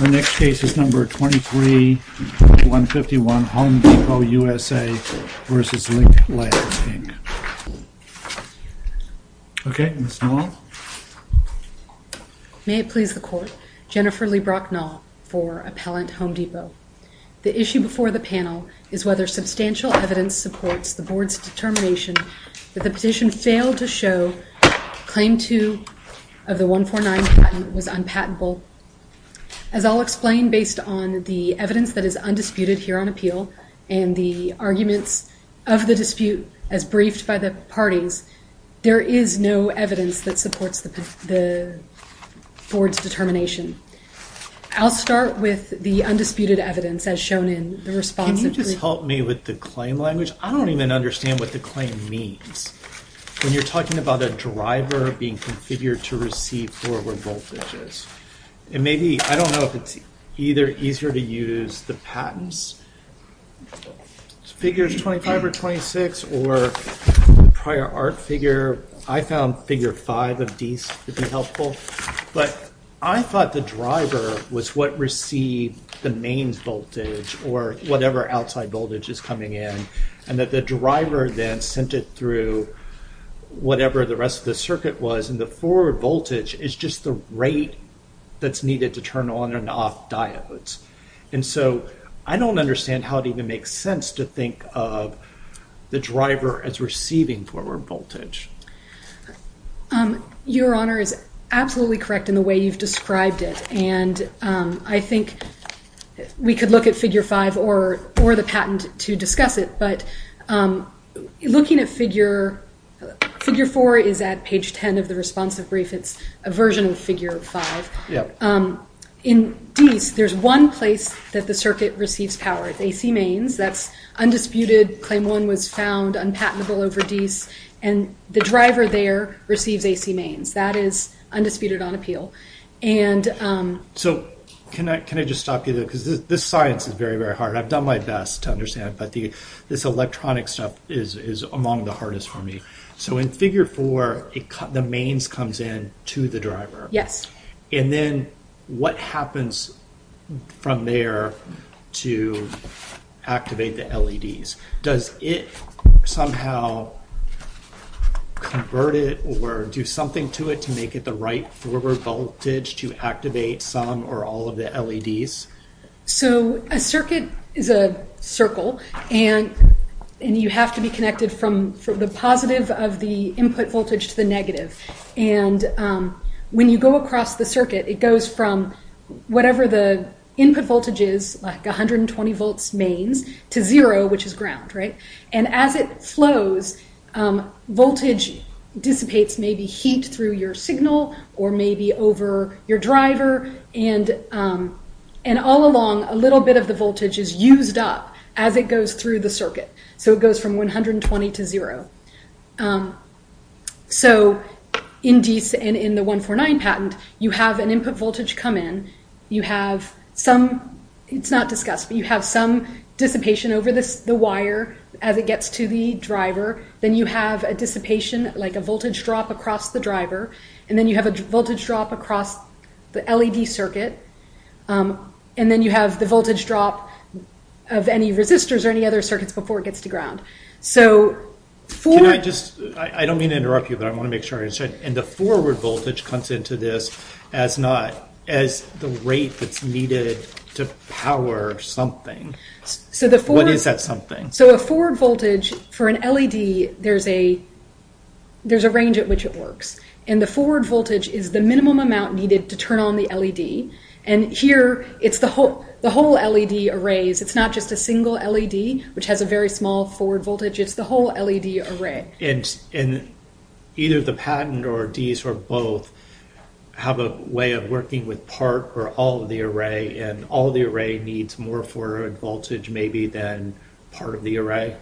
Our next case is number 23151, Home Depot, U.S.A. v. Lynk Labs, Inc. Okay, Ms. Nall. May it please the Court, Jennifer Leigh Brock Nall for Appellant Home Depot. The issue before the panel is whether substantial evidence supports the Board's determination that the petition failed to show claim 2 of the 149 patent was unpatentable. As I'll explain, based on the evidence that is undisputed here on appeal and the arguments of the dispute as briefed by the parties, there is no evidence that supports the Board's determination. I'll start with the undisputed evidence as shown in the responsive brief. Can you just help me with the claim language? I don't even understand what the claim means. When you're talking about a driver being configured to receive forward voltages, it may be, I don't know if it's either easier to use the patents, figures 25 or 26, or prior art figure, I found figure 5 of Dease to be helpful, but I thought the driver was what received the main voltage or whatever outside voltage is coming in and that the driver then sent it through whatever the rest of the circuit was and the forward voltage is just the rate that's needed to turn on and off diodes. And so I don't understand how it even makes sense to think of the driver as receiving forward voltage. Your Honor is absolutely correct in the way you've described it and I think we could look at figure 5 or the patent to discuss it, but looking at figure 4 is at page 10 of the responsive brief. It's a version of figure 5. In Dease, there's one place that the circuit receives power. It's AC mains. That's undisputed. Claim 1 was found unpatentable over Dease and the driver there receives AC mains. That is undisputed on appeal. So can I just stop you there? Because this science is very, very hard. I've done my best to understand, but this electronic stuff is among the hardest for me. So in figure 4, the mains comes in to the driver. And then what happens from there to activate the LEDs? Does it somehow convert it or do something to it to make it the right forward voltage to activate some or all of the LEDs? So a circuit is a circle and you have to be connected from the positive of the input voltage to the negative. And when you go across the circuit, it goes from whatever the input voltage is, like 120 volts mains, to zero, which is ground, right? And as it flows, voltage dissipates maybe heat through your signal or maybe over your driver and all along, a little bit of the voltage is used up as it goes through the circuit. So it goes from 120 to zero. So in Dease and in the 149 patent, you have an input voltage come in. You have some, it's not discussed, but you have some dissipation over the wire as it gets to the driver. Then you have a dissipation, like a voltage drop across the driver. And then you have a voltage drop across the LED circuit. And then you have the voltage drop of any resistors or any other circuits before it gets to ground. So for... Can I just, I don't mean to interrupt you, but I want to make sure I understand. And the forward voltage comes into this as not, as the rate that's needed to power something. So the forward... What is that something? So a forward voltage for an LED, there's a range at which it works. And the forward voltage is the minimum amount needed to turn on the LED. And here it's the whole LED arrays. It's not just a single LED, which has a very small forward voltage. It's the whole LED array. And either the patent or Dease or both have a way of working with part or all of the array. And all of the array needs more forward voltage maybe than part of the array?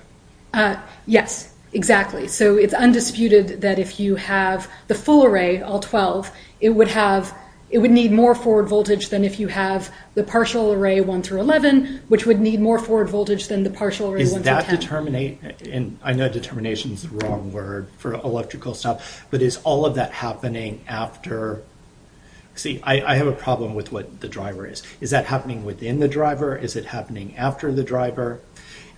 Yes, exactly. So it's undisputed that if you have the full array, all 12, it would have... It would need more forward voltage than if you have the partial array 1 through 11, which would need more forward voltage than the partial array 1 through 10. Is that determinate... And I know determination is the wrong word for electrical stuff. But is all of that happening after... See, I have a problem with what the driver is. Is that happening within the driver? Is it happening after the driver?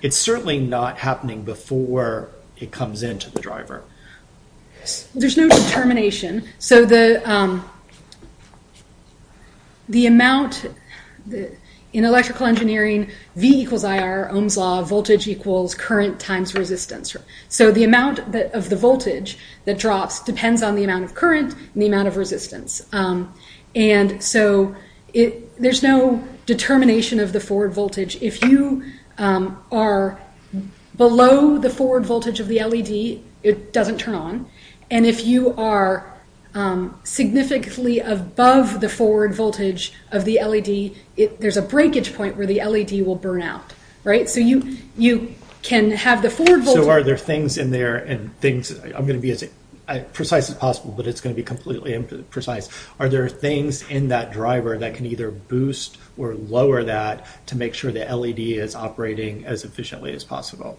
It's certainly not happening before it comes into the driver. There's no determination. So the amount... In electrical engineering, V equals IR, Ohm's Law, voltage equals current times resistance. So the amount of the voltage that drops depends on the amount of current and the amount of resistance. And so there's no determination of the forward voltage. If you are below the forward voltage of the LED, it doesn't turn on. And if you are significantly above the forward voltage of the LED, there's a breakage point where the LED will burn out. Right? So you can have the forward voltage... So are there things in there and things... I'm going to be as precise as possible, but it's going to be completely imprecise. Are there things in that driver that can either boost or lower that to make sure the LED is operating as efficiently as possible?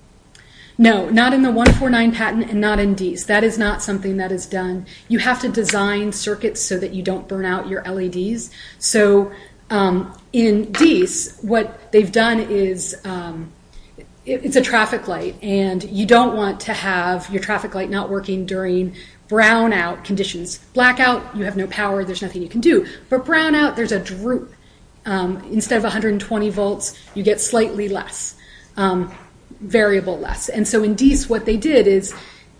No, not in the 149 patent and not in DEECE. That is not something that is done. You have to design circuits so that you don't burn out your LEDs. So in DEECE, what they've done is... It's a traffic light, and you don't want to have your traffic light not working during brownout conditions. Blackout, you have no power. There's nothing you can do. But brownout, there's a droop. Instead of 120 volts, you get slightly less, variable less. And so in DEECE, what they did is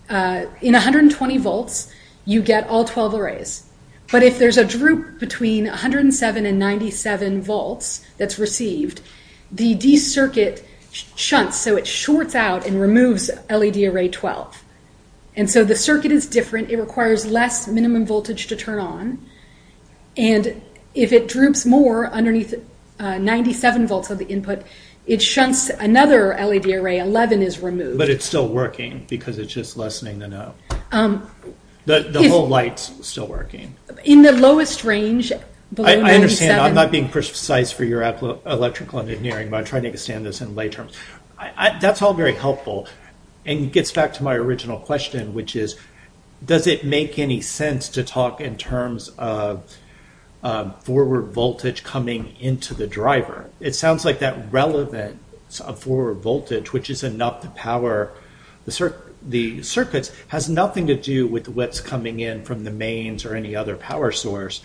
in 120 volts, you get all 12 arrays. But if there's a droop between 107 and 97 volts that's received, the DEECE circuit shunts. So it shorts out and removes LED array 12. And so the circuit is different. It requires less minimum voltage to turn on. And if it droops more underneath 97 volts of the input, it shunts another LED array. 11 is removed. But it's still working because it's just lessening the no. The whole light's still working. In the lowest range, below 97... I understand. I'm not being precise for your electrical engineering, but I'm trying to understand this in lay terms. That's all very helpful. And it gets back to my original question, which is, does it make any sense to talk in terms of forward voltage coming into the driver? It sounds like that relevant forward voltage, which is enough to power the circuits, has nothing to do with what's coming in from the mains or any other power source.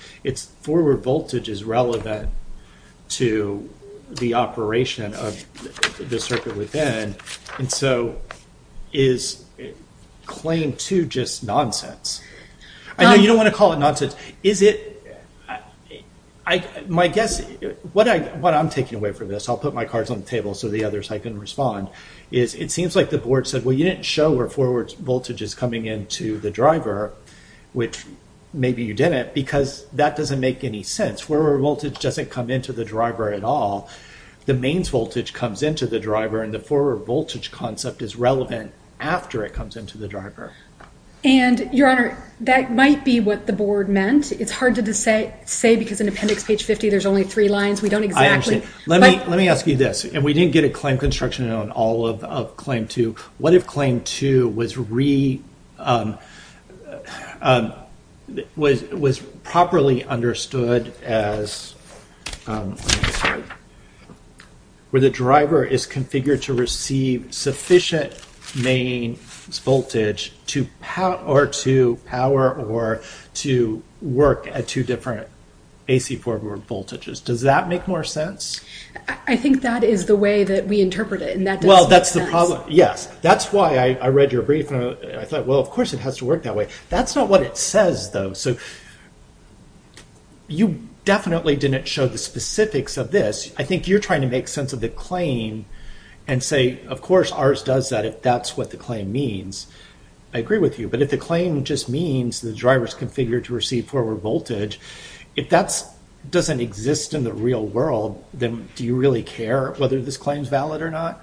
Forward voltage is relevant to the operation of the circuit within, and so is claimed to just nonsense. I know you don't want to call it nonsense. What I'm taking away from this, I'll put my cards on the table so the others can respond, is it seems like the board said, well, you didn't show where forward voltage is coming into the driver, which maybe you didn't, because that doesn't make any sense. Forward voltage doesn't come into the driver at all. The mains voltage comes into the driver, and the forward voltage concept is relevant after it comes into the driver. And, Your Honor, that might be what the board meant. It's hard to say because in appendix page 50 there's only three lines. We don't exactly... Let me ask you this. And we didn't get a claim construction on all of claim two. What if claim two was properly understood as where the driver is configured to receive sufficient mains voltage or to power or to work at two different AC forward voltages? Does that make more sense? I think that is the way that we interpret it, and that doesn't make sense. Yes, that's why I read your brief, and I thought, well, of course it has to work that way. That's not what it says, though. You definitely didn't show the specifics of this. I think you're trying to make sense of the claim and say, of course, ours does that if that's what the claim means. I agree with you, but if the claim just means the driver is configured to receive forward voltage, if that doesn't exist in the real world, then do you really care whether this claim is valid or not?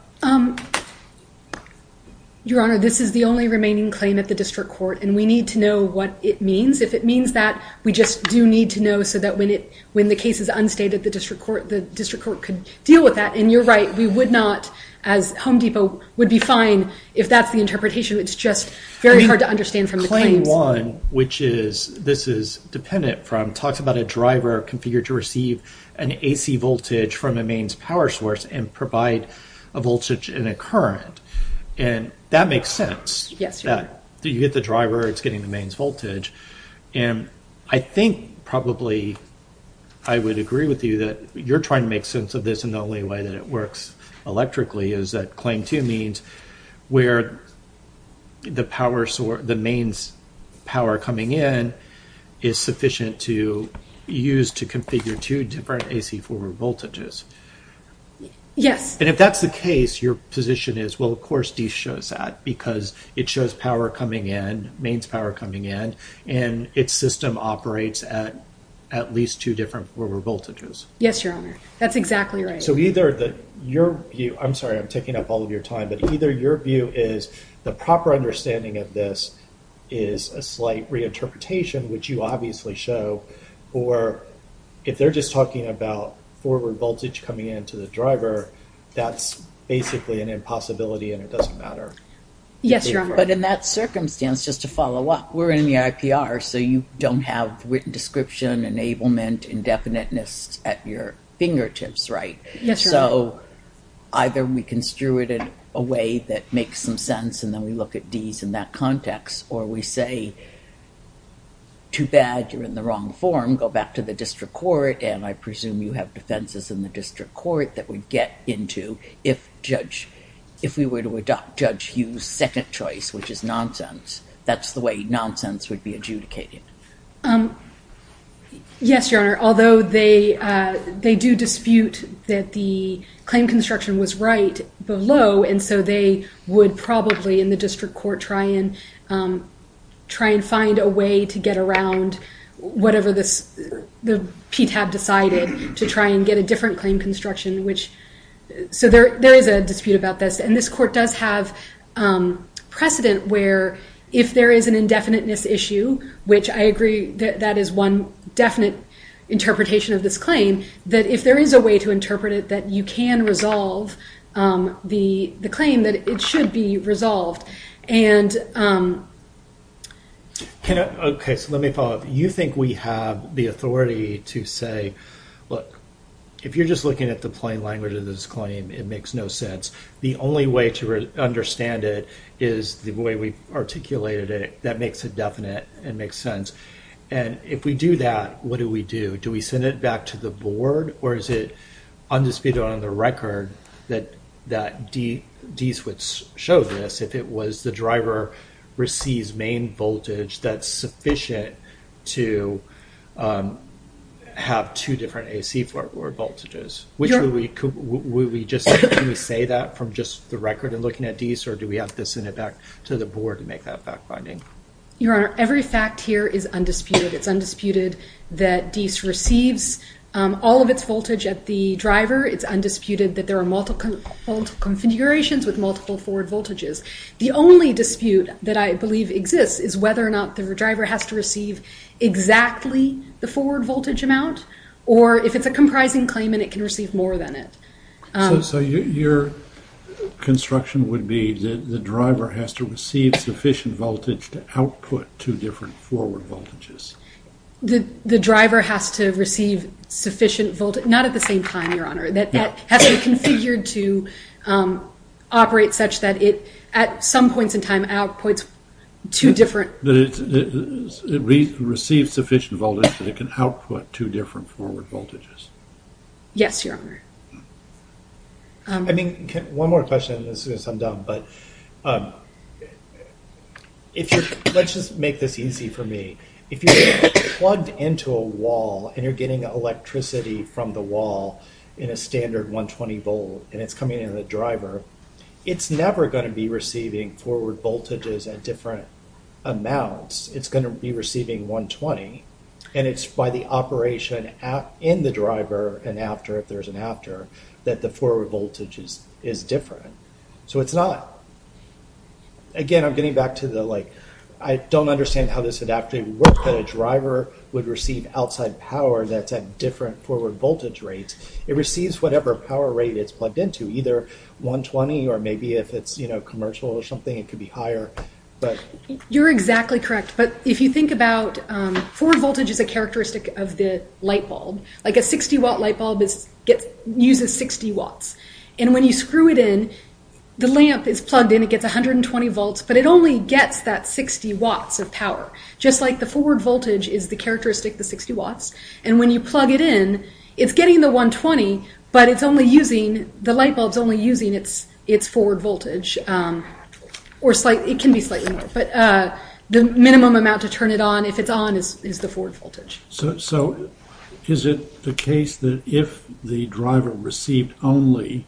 Your Honor, this is the only remaining claim at the district court, and we need to know what it means. If it means that, we just do need to know so that when the case is unstated, the district court could deal with that. And you're right. We would not, as Home Depot would be fine if that's the interpretation. It's just very hard to understand from the claims. Claim one, which this is dependent from, talks about a driver configured to receive an AC voltage from a mains power source and provide a voltage in a current. That makes sense. You get the driver, it's getting the mains voltage. I think probably I would agree with you that you're trying to make sense of this, and the only way that it works electrically is that claim two means where the mains power coming in is sufficient to use to configure two different AC forward voltages. Yes. And if that's the case, your position is, well, of course D shows that, because it shows power coming in, mains power coming in, and its system operates at at least two different forward voltages. Yes, Your Honor. That's exactly right. So either your view, I'm sorry, I'm taking up all of your time, but either your view is the proper understanding of this is a slight reinterpretation, which you obviously show, or if they're just talking about forward voltage coming into the driver, that's basically an impossibility and it doesn't matter. Yes, Your Honor. But in that circumstance, just to follow up, we're in the IPR, so you don't have written description, enablement, indefiniteness at your fingertips, right? Yes, Your Honor. So either we construe it in a way that makes some sense and then we look at Ds in that context, or we say, too bad, you're in the wrong form, go back to the district court, and I presume you have defenses in the district court that would get into if judge, if we were to adopt Judge Hughes' second choice, which is nonsense, that's the way nonsense would be adjudicated. Yes, Your Honor. Although they do dispute that the claim construction was right below, and so they would probably in the district court try and find a way to get around whatever the PTAB decided to try and get a different claim construction. So there is a dispute about this, and this court does have precedent where if there is an indefiniteness issue, which I agree that that is one definite interpretation of this claim, that if there is a way to interpret it that you can resolve the claim, that it should be resolved. Okay, so let me follow up. You think we have the authority to say, look, if you're just looking at the plain language of this claim, it makes no sense. The only way to understand it is the way we've articulated it. That makes it definite. It makes sense. And if we do that, what do we do? Do we send it back to the board, or is it undisputed on the record that Deese would show this if it was the driver receives main voltage that's sufficient to have two different AC voltages? Would we just say that from just the record in looking at Deese, or do we have to send it back to the board to make that fact-finding? Your Honor, every fact here is undisputed. It's undisputed that Deese receives all of its voltage at the driver. It's undisputed that there are multiple configurations with multiple forward voltages. The only dispute that I believe exists is whether or not the driver has to receive exactly the forward voltage amount, or if it's a comprising claim and it can receive more than it. So your construction would be that the driver has to receive sufficient voltage to output two different forward voltages? The driver has to receive sufficient voltage. Not at the same time, Your Honor. That has to be configured to operate such that it, at some points in time, outputs two different... That it receives sufficient voltage that it can output two different forward voltages. Yes, Your Honor. I mean, one more question, as soon as I'm done. Let's just make this easy for me. If you're plugged into a wall and you're getting electricity from the wall in a standard 120 volt, and it's coming into the driver, it's never going to be receiving forward voltages at different amounts. It's going to be receiving 120, and it's by the operation in the driver and after, if there's an after, that the forward voltage is different. So it's not. Again, I'm getting back to the, like, I don't understand how this would actually work, that a driver would receive outside power that's at different forward voltage rates. It receives whatever power rate it's plugged into, either 120 or maybe if it's, you know, commercial or something, it could be higher. You're exactly correct. But if you think about, forward voltage is a characteristic of the light bulb. Like, a 60 watt light bulb uses 60 watts. And when you screw it in, the lamp is plugged in, it gets 120 volts, but it only gets that 60 watts of power. Just like the forward voltage is the characteristic, the 60 watts. And when you plug it in, it's getting the 120, but it's only using, the light bulb's only using its forward voltage. Or slightly, it can be slightly more, but the minimum amount to turn it on, if it's on, is the forward voltage. So, is it the case that if the driver received only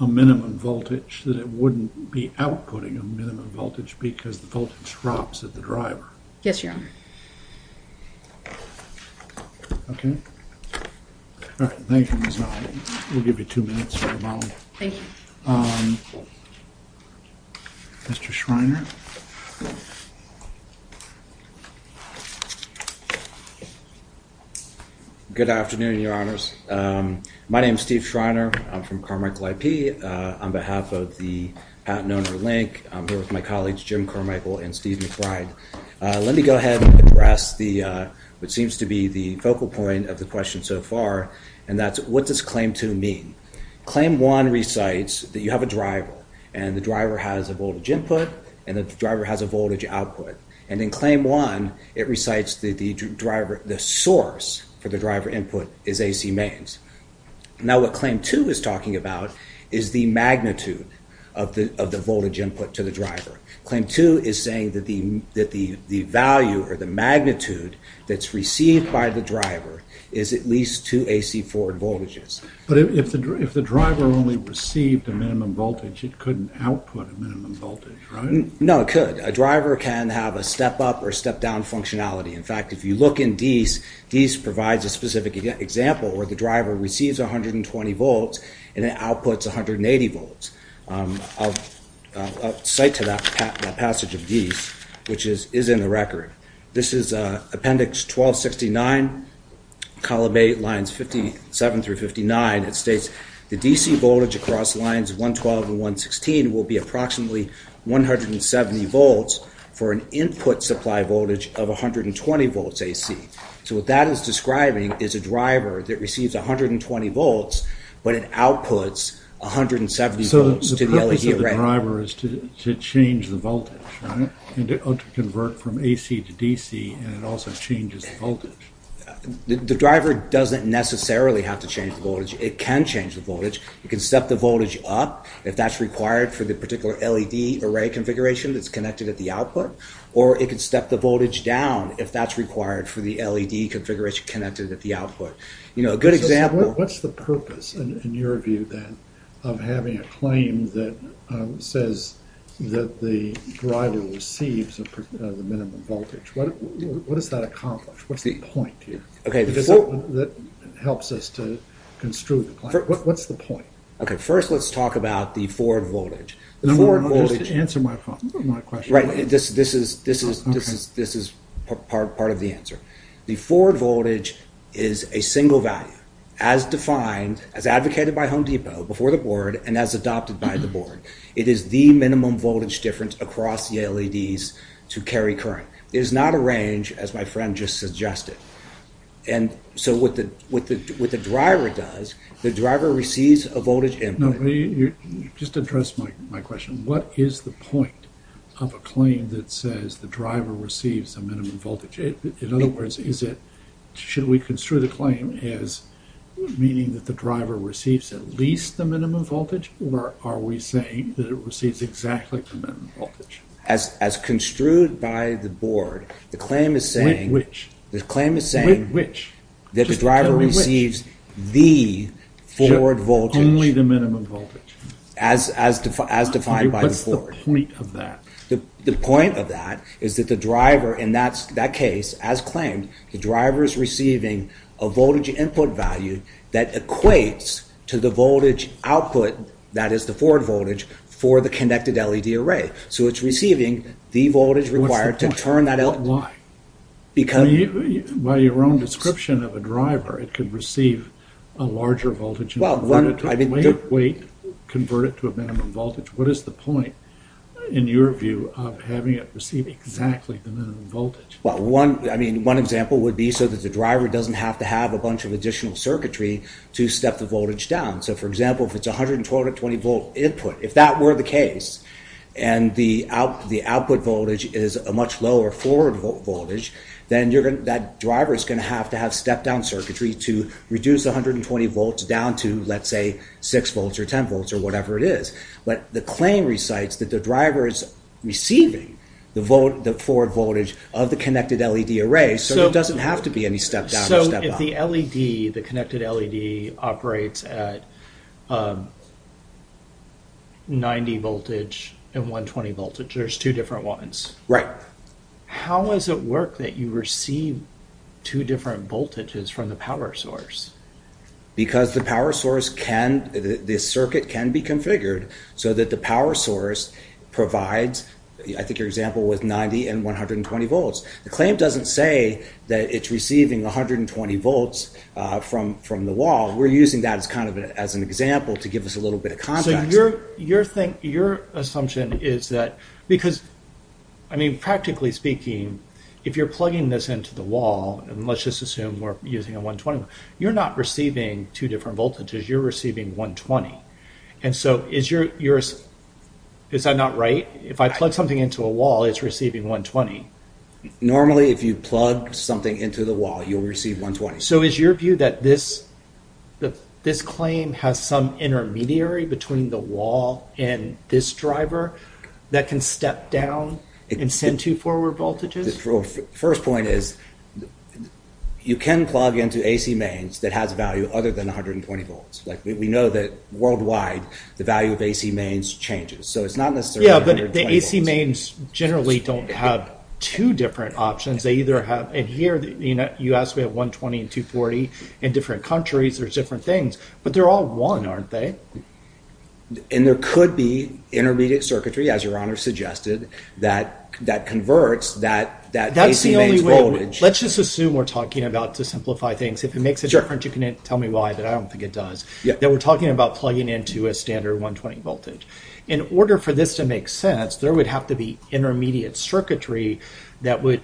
a minimum voltage, that it wouldn't be outputting a minimum voltage because the voltage drops at the driver? Yes, Your Honor. Okay. All right, thank you, Ms. Molley. We'll give you two minutes, Ms. Molley. Thank you. Mr. Schreiner. Good afternoon, Your Honors. My name is Steve Schreiner. I'm from Carmichael IP. On behalf of the Patent Owner Link, I'm here with my colleagues, Jim Carmichael and Steve McBride. Let me go ahead and address the, what seems to be the focal point of the question so far. And that's, what does claim two mean? Claim one recites that you have a driver, and the driver has a voltage input, and the driver has a voltage output. And in claim one, it recites that the source for the driver input is AC mains. Now, what claim two is talking about is the magnitude of the voltage input to the driver. Claim two is saying that the value or the magnitude that's received by the driver is at least two AC forward voltages. But if the driver only received a minimum voltage, it couldn't output a minimum voltage, right? No, it could. A driver can have a step-up or a step-down functionality. In fact, if you look in DEIS, DEIS provides a specific example where the driver receives 120 volts and it outputs 180 volts. I'll cite to that passage of DEIS, which is in the record. This is appendix 1269, column 8, lines 57 through 59. It states the DC voltage across lines 112 and 116 will be approximately 170 volts for an input supply voltage of 120 volts AC. So what that is describing is a driver that receives 120 volts, but it outputs 170 volts to the LED array. The driver is to change the voltage, right? To convert from AC to DC, and it also changes the voltage. The driver doesn't necessarily have to change the voltage. It can change the voltage. It can step the voltage up if that's required for the particular LED array configuration that's connected at the output, or it can step the voltage down if that's required for the LED configuration connected at the output. What's the purpose, in your view, then, of having a claim that says that the driver receives the minimum voltage? What does that accomplish? What's the point here that helps us to construe the claim? What's the point? First, let's talk about the forward voltage. Answer my question. This is part of the answer. The forward voltage is a single value, as defined, as advocated by Home Depot, before the board, and as adopted by the board. It is the minimum voltage difference across the LEDs to carry current. It is not a range, as my friend just suggested. And so what the driver does, the driver receives a voltage input. No, but just address my question. What is the point of a claim that says the driver receives a minimum voltage? In other words, should we construe the claim as meaning that the driver receives at least the minimum voltage, or are we saying that it receives exactly the minimum voltage? As construed by the board, the claim is saying that the driver receives the forward voltage. Only the minimum voltage. As defined by the board. What's the point of that? The point of that is that the driver, in that case, as claimed, the driver is receiving a voltage input value that equates to the voltage output, that is the forward voltage, for the connected LED array. So it's receiving the voltage required to turn that LED. What's the point? Why? By your own description of a driver, it could receive a larger voltage and convert it to a minimum voltage. What is the point, in your view, of having it receive exactly the minimum voltage? Well, one example would be so that the driver doesn't have to have a bunch of additional circuitry to step the voltage down. So, for example, if it's a 120-volt input, if that were the case, and the output voltage is a much lower forward voltage, then that driver is going to have to have step-down circuitry to reduce the 120 volts down to, let's say, 6 volts or 10 volts or whatever it is. But the claim recites that the driver is receiving the forward voltage of the connected LED array, so there doesn't have to be any step-down or step-up. So if the LED, the connected LED, operates at 90 voltage and 120 voltage, there's two different ones. Right. How does it work that you receive two different voltages from the power source? Because the circuit can be configured so that the power source provides, I think your example, with 90 and 120 volts. The claim doesn't say that it's receiving 120 volts from the wall. We're using that as an example to give us a little bit of context. So your assumption is that, because, I mean, practically speaking, if you're plugging this into the wall, and let's just assume we're using a 120, you're not receiving two different voltages, you're receiving 120. And so, is that not right? If I plug something into a wall, it's receiving 120. Normally, if you plug something into the wall, you'll receive 120. So is your view that this claim has some intermediary between the wall and this driver that can step down and send two forward voltages? The first point is, you can plug into AC mains that has a value other than 120 volts. We know that, worldwide, the value of AC mains changes, so it's not necessarily 120 volts. Yeah, but the AC mains generally don't have two different options. They either have, and here, you asked, we have 120 and 240 in different countries, there's different things. But they're all one, aren't they? And there could be intermediate circuitry, as your Honor suggested, that converts that AC mains voltage. That's the only way, let's just assume we're talking about, to simplify things, if it makes a difference, you can tell me why, but I don't think it does. That we're talking about plugging into a standard 120 voltage. In order for this to make sense, there would have to be intermediate circuitry that would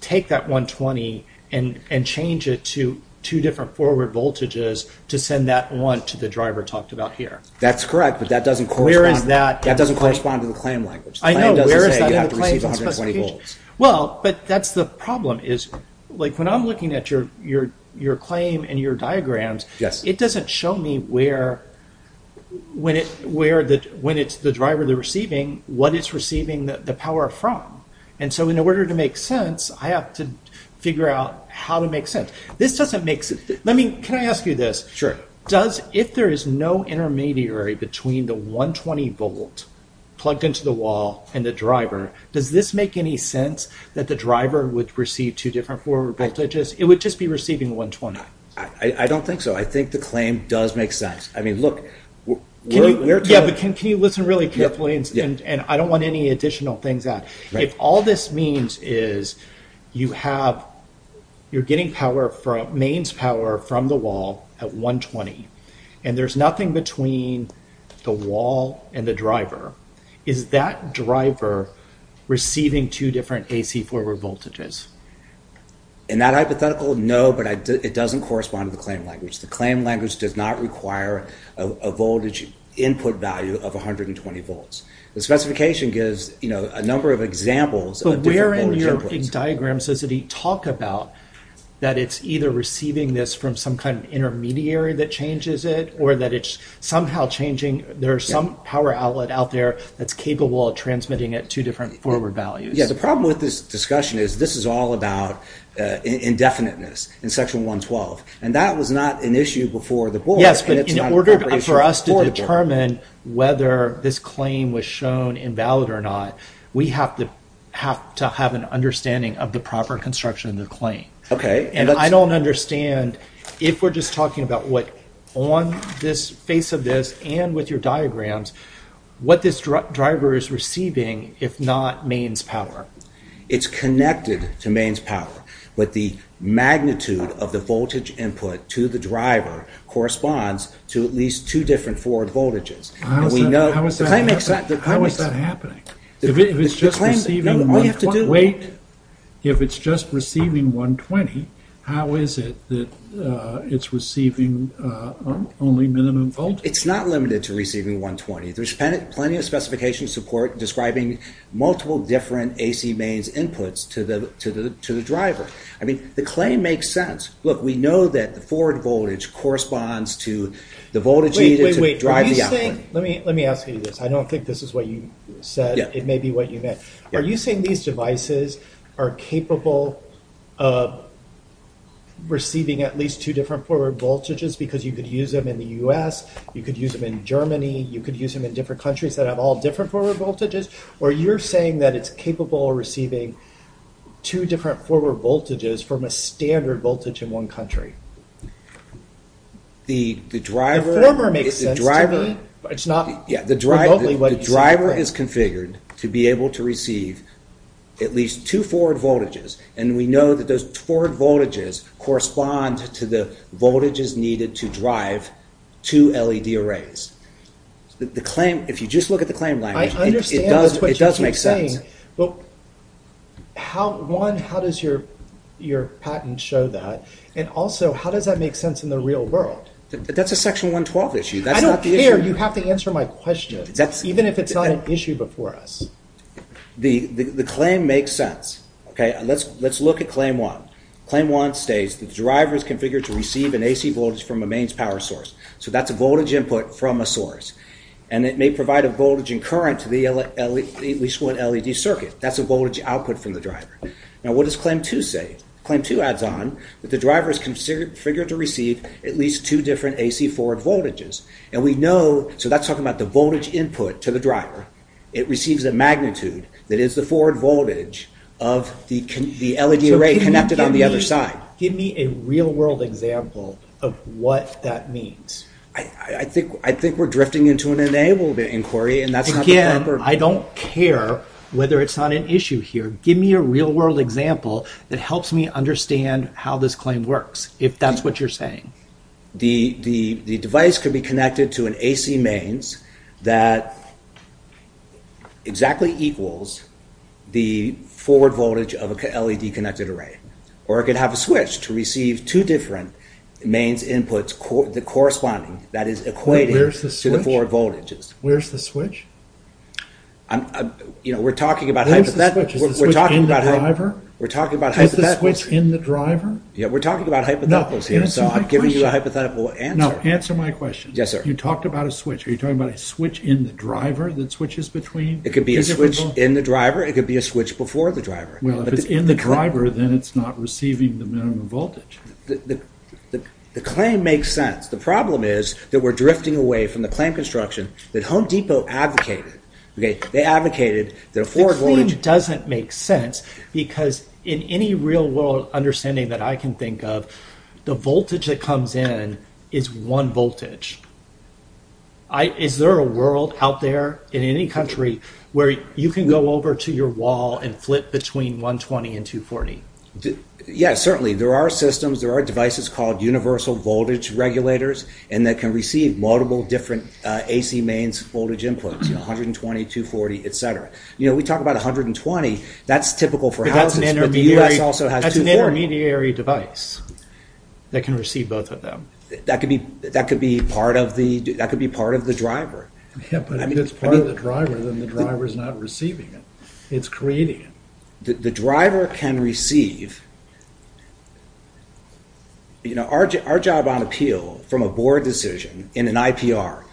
take that 120 and change it to two different forward voltages to send that one to the driver talked about here. That's correct, but that doesn't correspond to the claim language. I know, where is that in the claim specification? But that's the problem, when I'm looking at your claim and your diagrams, it doesn't show me where, when it's the driver they're receiving, what it's receiving the power from. And so, in order to make sense, I have to figure out how to make sense. Let me, can I ask you this? Does, if there is no intermediary between the 120 volt plugged into the wall and the driver, does this make any sense that the driver would receive two different forward voltages? It would just be receiving 120. I don't think so, I think the claim does make sense. I mean, look, we're talking... Yeah, but can you listen really carefully, and I don't want any additional things added. If all this means is you have, you're getting mains power from the wall at 120, and there's nothing between the wall and the driver, is that driver receiving two different AC forward voltages? In that hypothetical, no, but it doesn't correspond to the claim language. The claim language does not require a voltage input value of 120 volts. The specification gives, you know, a number of examples of different voltage inputs. But where in your diagram does it talk about that it's either receiving this from some kind of intermediary that changes it, or that it's somehow changing, there's some power outlet out there that's capable of transmitting it two different forward values? Yeah, the problem with this discussion is this is all about indefiniteness in section 112, and that was not an issue before the board. Yes, but in order for us to determine whether this claim was shown invalid or not, we have to have an understanding of the proper construction of the claim. Okay. And I don't understand if we're just talking about what on this face of this and with your diagrams, what this driver is receiving, if not mains power. It's connected to mains power, but the magnitude of the voltage input to the driver corresponds to at least two different forward voltages. How is that happening? If it's just receiving 120, how is it that it's receiving only minimum voltage? It's not limited to receiving 120. There's plenty of specification support describing multiple different AC mains inputs to the driver. I mean, the claim makes sense. Look, we know that the forward voltage corresponds to the voltage needed to drive the output. Wait, wait, wait. Let me ask you this. I don't think this is what you said. Yeah. It may be what you meant. Are you saying these devices are capable of receiving at least two different forward voltages because you could use them in the U.S., you could use them in Germany, you could use them in different countries that have all different forward voltages? Or you're saying that it's capable of receiving two different forward voltages from a standard voltage in one country? The former makes sense to me, but it's not remotely what you said. The driver is configured to be able to receive at least two forward voltages, and we know that those forward voltages correspond to the voltages needed to drive two LED arrays. If you just look at the claim language, it does make sense. I understand what you're saying. One, how does your patent show that? And also, how does that make sense in the real world? That's a Section 112 issue. I don't care. You have to answer my question, even if it's not an issue before us. The claim makes sense. Let's look at Claim 1. Claim 1 states that the driver is configured to receive an AC voltage from a mains power source. So that's a voltage input from a source. And it may provide a voltage and current to at least one LED circuit. That's a voltage output from the driver. Now, what does Claim 2 say? Claim 2 adds on that the driver is configured to receive at least two different AC forward voltages. So that's talking about the voltage input to the driver. It receives a magnitude that is the forward voltage of the LED array connected on the other side. Give me a real-world example of what that means. I think we're drifting into an enabled inquiry, and that's not the proper— Again, I don't care whether it's not an issue here. Give me a real-world example that helps me understand how this claim works, if that's what you're saying. The device could be connected to an AC mains that exactly equals the forward voltage of a LED-connected array. Or it could have a switch to receive two different mains inputs corresponding, that is, equating to the forward voltages. Where's the switch? You know, we're talking about hypotheticals. Where's the switch? Is the switch in the driver? We're talking about hypotheticals. Is the switch in the driver? Yeah, we're talking about hypotheticals here, so I'm giving you a hypothetical answer. No, answer my question. Yes, sir. You talked about a switch. Are you talking about a switch in the driver that switches between two different voltages? It could be a switch in the driver. It could be a switch before the driver. Well, if it's in the driver, then it's not receiving the minimum voltage. The claim makes sense. The problem is that we're drifting away from the claim construction that Home Depot advocated. They advocated that a forward voltage… The claim doesn't make sense, because in any real-world understanding that I can think of, the voltage that comes in is one voltage. Is there a world out there in any country where you can go over to your wall and flip between 120 and 240? Yeah, certainly. There are systems, there are devices called universal voltage regulators, and that can receive multiple different AC mains voltage inputs, 120, 240, etc. You know, we talk about 120. That's typical for houses, but the U.S. also has 240. But that's an intermediary device that can receive both of them. That could be part of the driver. Yeah, but if it's part of the driver, then the driver is not receiving it. It's creating it. The driver can receive… Our job on appeal from a board decision in an IPR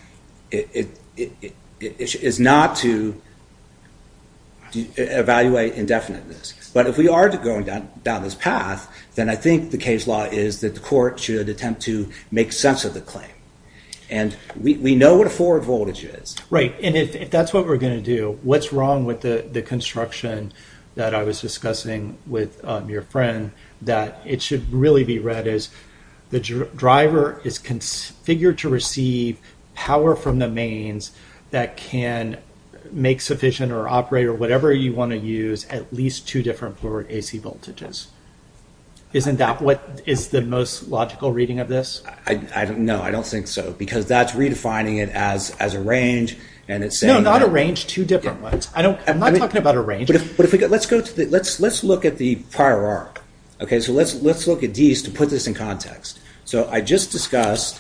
is not to evaluate indefiniteness. But if we are going down this path, then I think the case law is that the court should attempt to make sense of the claim. And we know what a forward voltage is. Right, and if that's what we're going to do, what's wrong with the construction that I was discussing with your friend, that it should really be read as the driver is configured to receive power from the mains that can make sufficient or operate or whatever you want to use at least two different forward AC voltages? Isn't that what is the most logical reading of this? No, I don't think so, because that's redefining it as a range. No, not a range, two different ones. I'm not talking about a range. But let's look at the prior arc. Okay, so let's look at Dease to put this in context. So I just discussed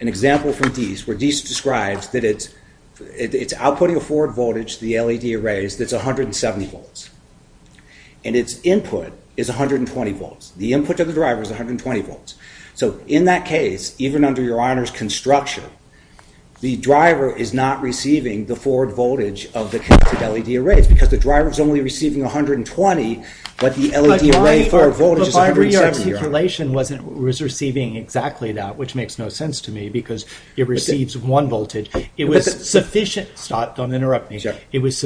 an example from Dease where Dease describes that it's outputting a forward voltage to the LED arrays that's 170 volts. And its input is 120 volts. The input to the driver is 120 volts. So in that case, even under your Honor's construction, the driver is not receiving the forward voltage of the connected LED arrays, because the driver is only receiving 120, but the LED array forward voltage is 170. Rearticulation was receiving exactly that, which makes no sense to me, because it receives one voltage. It was sufficient. Stop, don't interrupt me. It was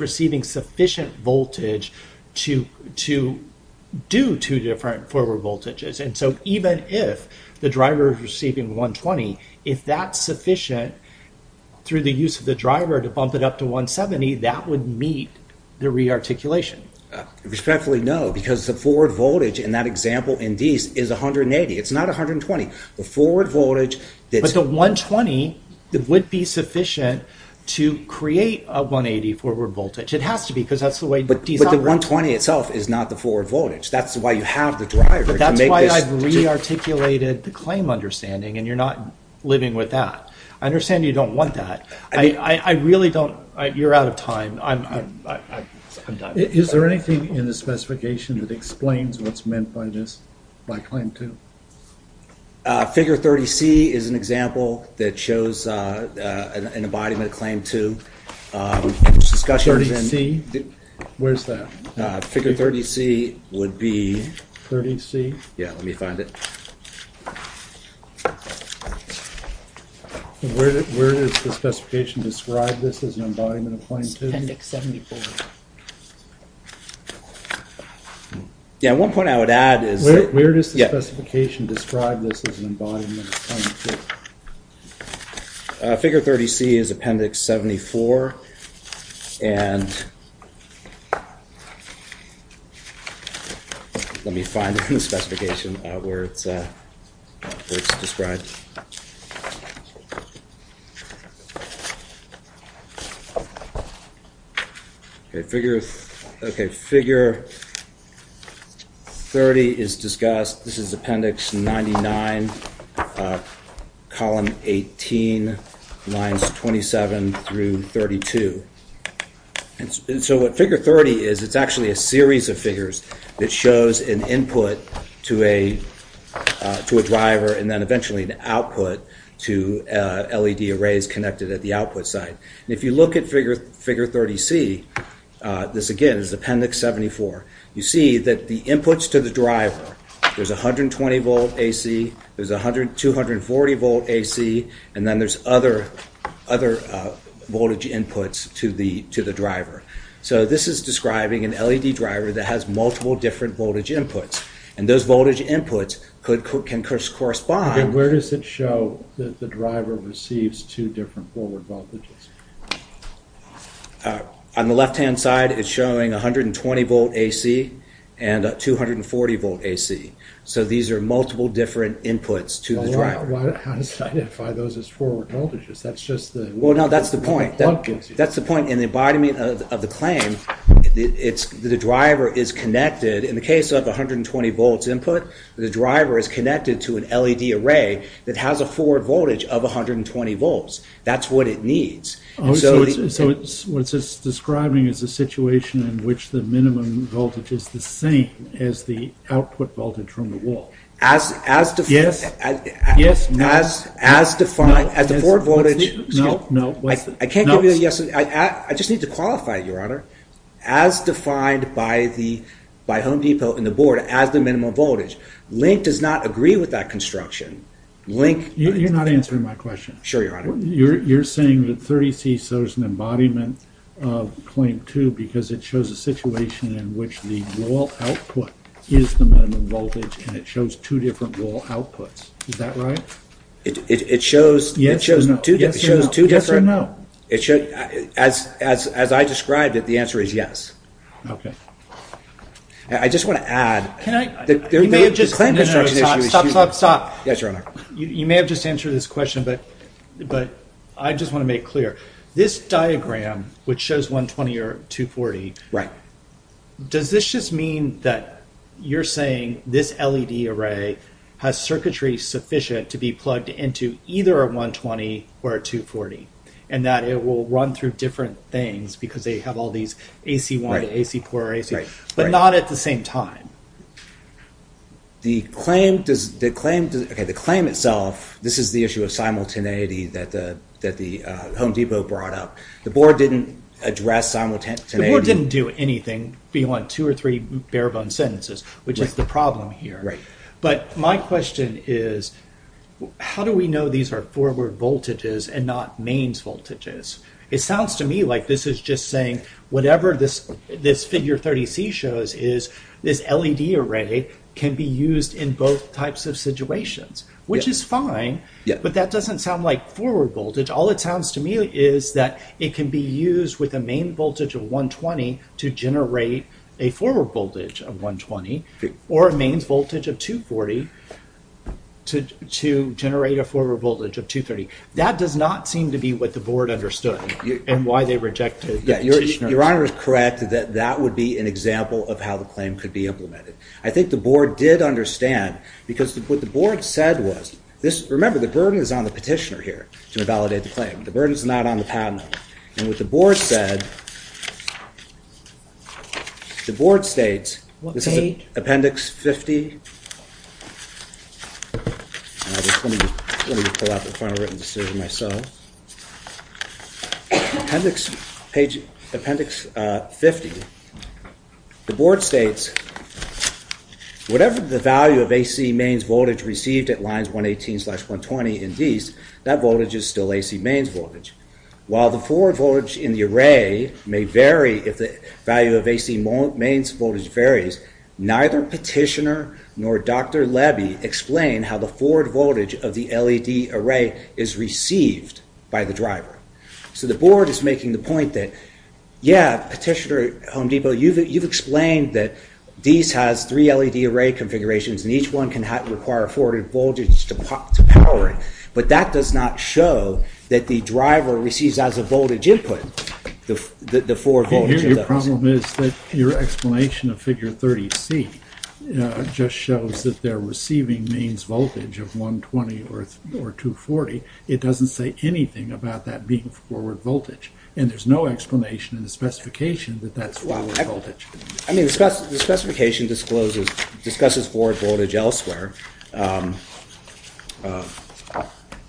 receiving sufficient voltage to do two different forward voltages. And so even if the driver is receiving 120, if that's sufficient through the use of the driver to bump it up to 170, that would meet the rearticulation. Respectfully, no, because the forward voltage in that example in Dease is 180. It's not 120. But the 120 would be sufficient to create a 180 forward voltage. It has to be, because that's the way Dease operates. But the 120 itself is not the forward voltage. That's why you have the driver. But that's why I've rearticulated the claim understanding, and you're not living with that. I understand you don't want that. I really don't. You're out of time. I'm done. Is there anything in the specification that explains what's meant by this, by Claim 2? Figure 30C is an example that shows an embodiment of Claim 2. 30C? Where's that? Figure 30C would be... 30C? Yeah, let me find it. Where does the specification describe this as an embodiment of Claim 2? It's Appendix 74. Yeah, one point I would add is... Where does the specification describe this as an embodiment of Claim 2? Figure 30C is Appendix 74. And let me find it in the specification where it's described. Okay, figure 30 is discussed. This is Appendix 99, column 18, lines 27 through 32. And so what figure 30 is, it's actually a series of figures that shows an input to a driver and then eventually an output to LED arrays connected at the output side. And if you look at figure 30C, this again is Appendix 74. You see that the inputs to the driver, there's a 120 volt AC, there's a 240 volt AC, and then there's other voltage inputs to the driver. So this is describing an LED driver that has multiple different voltage inputs. And those voltage inputs can correspond... And where does it show that the driver receives two different forward voltages? On the left-hand side, it's showing 120 volt AC and 240 volt AC. So these are multiple different inputs to the driver. How does it identify those as forward voltages? That's just the... Well, no, that's the point. That's the point in the embodiment of the claim. The driver is connected, in the case of 120 volts input, the driver is connected to an LED array that has a forward voltage of 120 volts. That's what it needs. So what it's describing is a situation in which the minimum voltage is the same as the output voltage from the wall. As defined... Yes, no. As defined as the forward voltage... No, no. I can't give you a yes... I just need to qualify it, Your Honor. As defined by Home Depot and the board as the minimum voltage, Link does not agree with that construction. Link... You're not answering my question. I'm sure, Your Honor. You're saying that 30C shows an embodiment of Claim 2 because it shows a situation in which the wall output is the minimum voltage and it shows two different wall outputs. Is that right? It shows... It shows two different... Yes or no. It shows... As I described it, the answer is yes. Okay. I just want to add... Can I... You may have just... Stop, stop, stop. Yes, Your Honor. You may have just answered this question, but I just want to make clear. This diagram, which shows 120 or 240... Right. Does this just mean that you're saying this LED array has circuitry sufficient to be plugged into either a 120 or a 240 and that it will run through different things because they have all these AC1, AC4, AC... Right, right. But not at the same time. The claim does... Okay, the claim itself, this is the issue of simultaneity that the Home Depot brought up. The board didn't address simultaneity. The board didn't do anything beyond two or three bare-bones sentences, which is the problem here. Right. But my question is, how do we know these are forward voltages and not mains voltages? It sounds to me like this is just saying whatever this figure 30C shows is this LED array can be used in both types of situations, which is fine, but that doesn't sound like forward voltage. All it sounds to me is that it can be used with a main voltage of 120 to generate a forward voltage of 120 or a mains voltage of 240 to generate a forward voltage of 230. That does not seem to be what the board understood and why they rejected the petitioner. Your Honor is correct that that would be an example of how the claim could be implemented. I think the board did understand because what the board said was... Remember, the burden is on the petitioner here to validate the claim. The burden is not on the patent owner. And what the board said... The board states... What page? Appendix 50. Let me just pull out the final written decision myself. Appendix 50. The board states... Whatever the value of AC mains voltage received at lines 118 slash 120 in these, that voltage is still AC mains voltage. While the forward voltage in the array may vary if the value of AC mains voltage varies, neither petitioner nor Dr. Lebbe explain how the forward voltage of the LED array is received by the driver. So the board is making the point that, yeah, Petitioner, Home Depot, you've explained that these has three LED array configurations and each one can require a forward voltage to power it. But that does not show that the driver receives as a voltage input the forward voltage. Your problem is that your explanation of figure 30C just shows that they're receiving mains voltage of 120 or 240. It doesn't say anything about that being forward voltage. And there's no explanation in the specification that that's forward voltage. I mean, the specification discloses... discusses forward voltage elsewhere. Let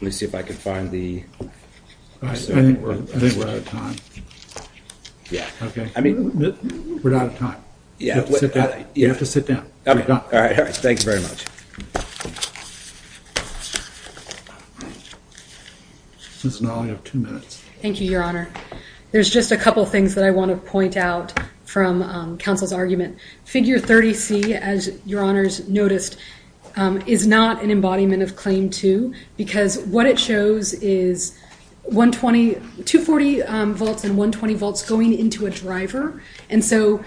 me see if I can find the... I think we're out of time. Yeah. Okay. We're out of time. Yeah. You have to sit down. All right. Thank you very much. Ms. Noll, you have two minutes. Thank you, Your Honor. There's just a couple of things that I want to point out from counsel's argument. Figure 30C, as Your Honors noticed, is not an embodiment of Claim 2 because what it shows is 120... 240 volts and 120 volts going into a driver. And so,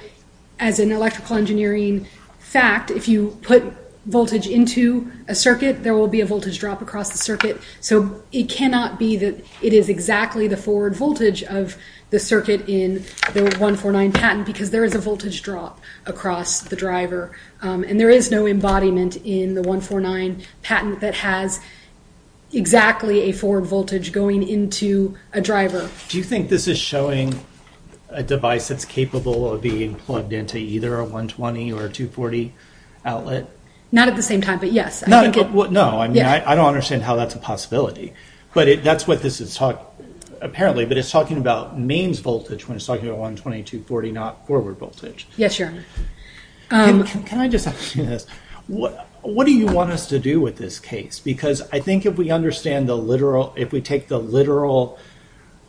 as an electrical engineering fact, if you put voltage into a circuit, there will be a voltage drop across the circuit. So it cannot be that it is exactly the forward voltage of the circuit in the 149 patent because there is a voltage drop across the driver. And there is no embodiment in the 149 patent that has exactly a forward voltage going into a driver. Do you think this is showing a device that's capable of being plugged into either a 120 or a 240 outlet? Not at the same time, but yes. No, I mean, I don't understand how that's a possibility. But that's what this is talking... Apparently, but it's talking about mains voltage when it's talking about 120, 240, not forward voltage. Yes, Your Honor. Can I just ask you this? What do you want us to do with this case? Because I think if we understand the literal... if we take the literal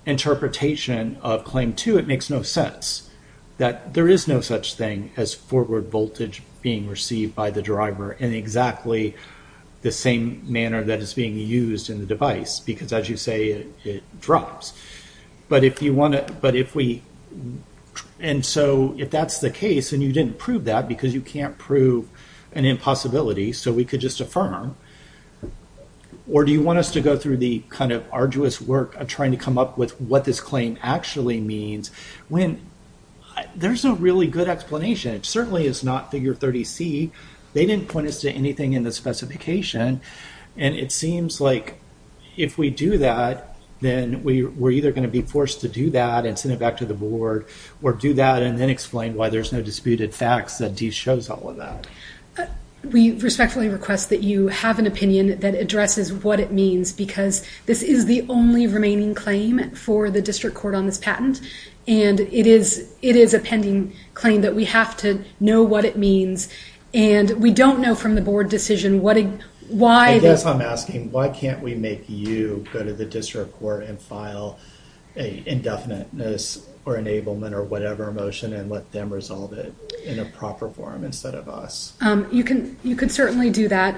interpretation of Claim 2, it makes no sense that there is no such thing as forward voltage being received by the driver in exactly the same manner that is being used in the device because, as you say, it drops. But if you want to... And so if that's the case and you didn't prove that because you can't prove an impossibility so we could just affirm, or do you want us to go through the kind of arduous work of trying to come up with what this claim actually means when there's no really good explanation? It certainly is not Figure 30C. They didn't point us to anything in the specification, and it seems like if we do that, then we're either going to be forced to do that and send it back to the board or do that and then explain why there's no disputed facts that D shows all of that. We respectfully request that you have an opinion that addresses what it means because this is the only remaining claim for the district court on this patent, and it is a pending claim that we have to know what it means and we don't know from the board decision why... I guess I'm asking, why can't we make you go to the district court and file an indefiniteness or enablement or whatever motion and let them resolve it in a proper form instead of us? You could certainly do that.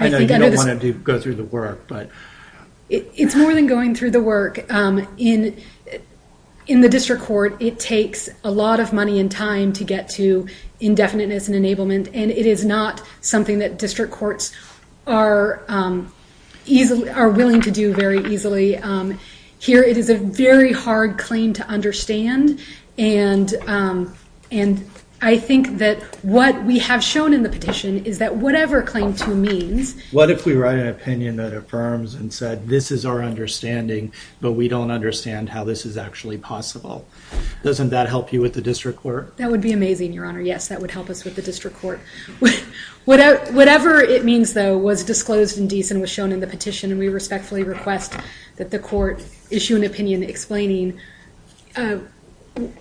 I know you don't want to go through the work, but... It's more than going through the work. In the district court, it takes a lot of money and time to get to indefiniteness and enablement, and it is not something that district courts are willing to do very easily. Here, it is a very hard claim to understand, and I think that what we have shown in the petition is that whatever Claim 2 means... What if we write an opinion that affirms and said, this is our understanding, but we don't understand how this is actually possible? Doesn't that help you with the district court? That would be amazing, Your Honor. Yes, that would help us with the district court. Whatever it means, though, was disclosed indecent and was shown in the petition, and we respectfully request that the court issue an opinion explaining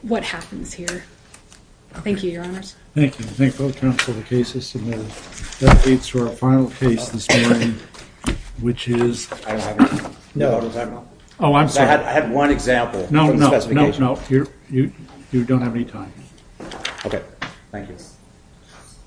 what happens here. Thank you, Your Honors. Thank you. I thank both counsel for the cases submitted. That leads to our final case this morning, which is... I don't have it. I had one example. No, no, you don't have any time. Okay. Thank you.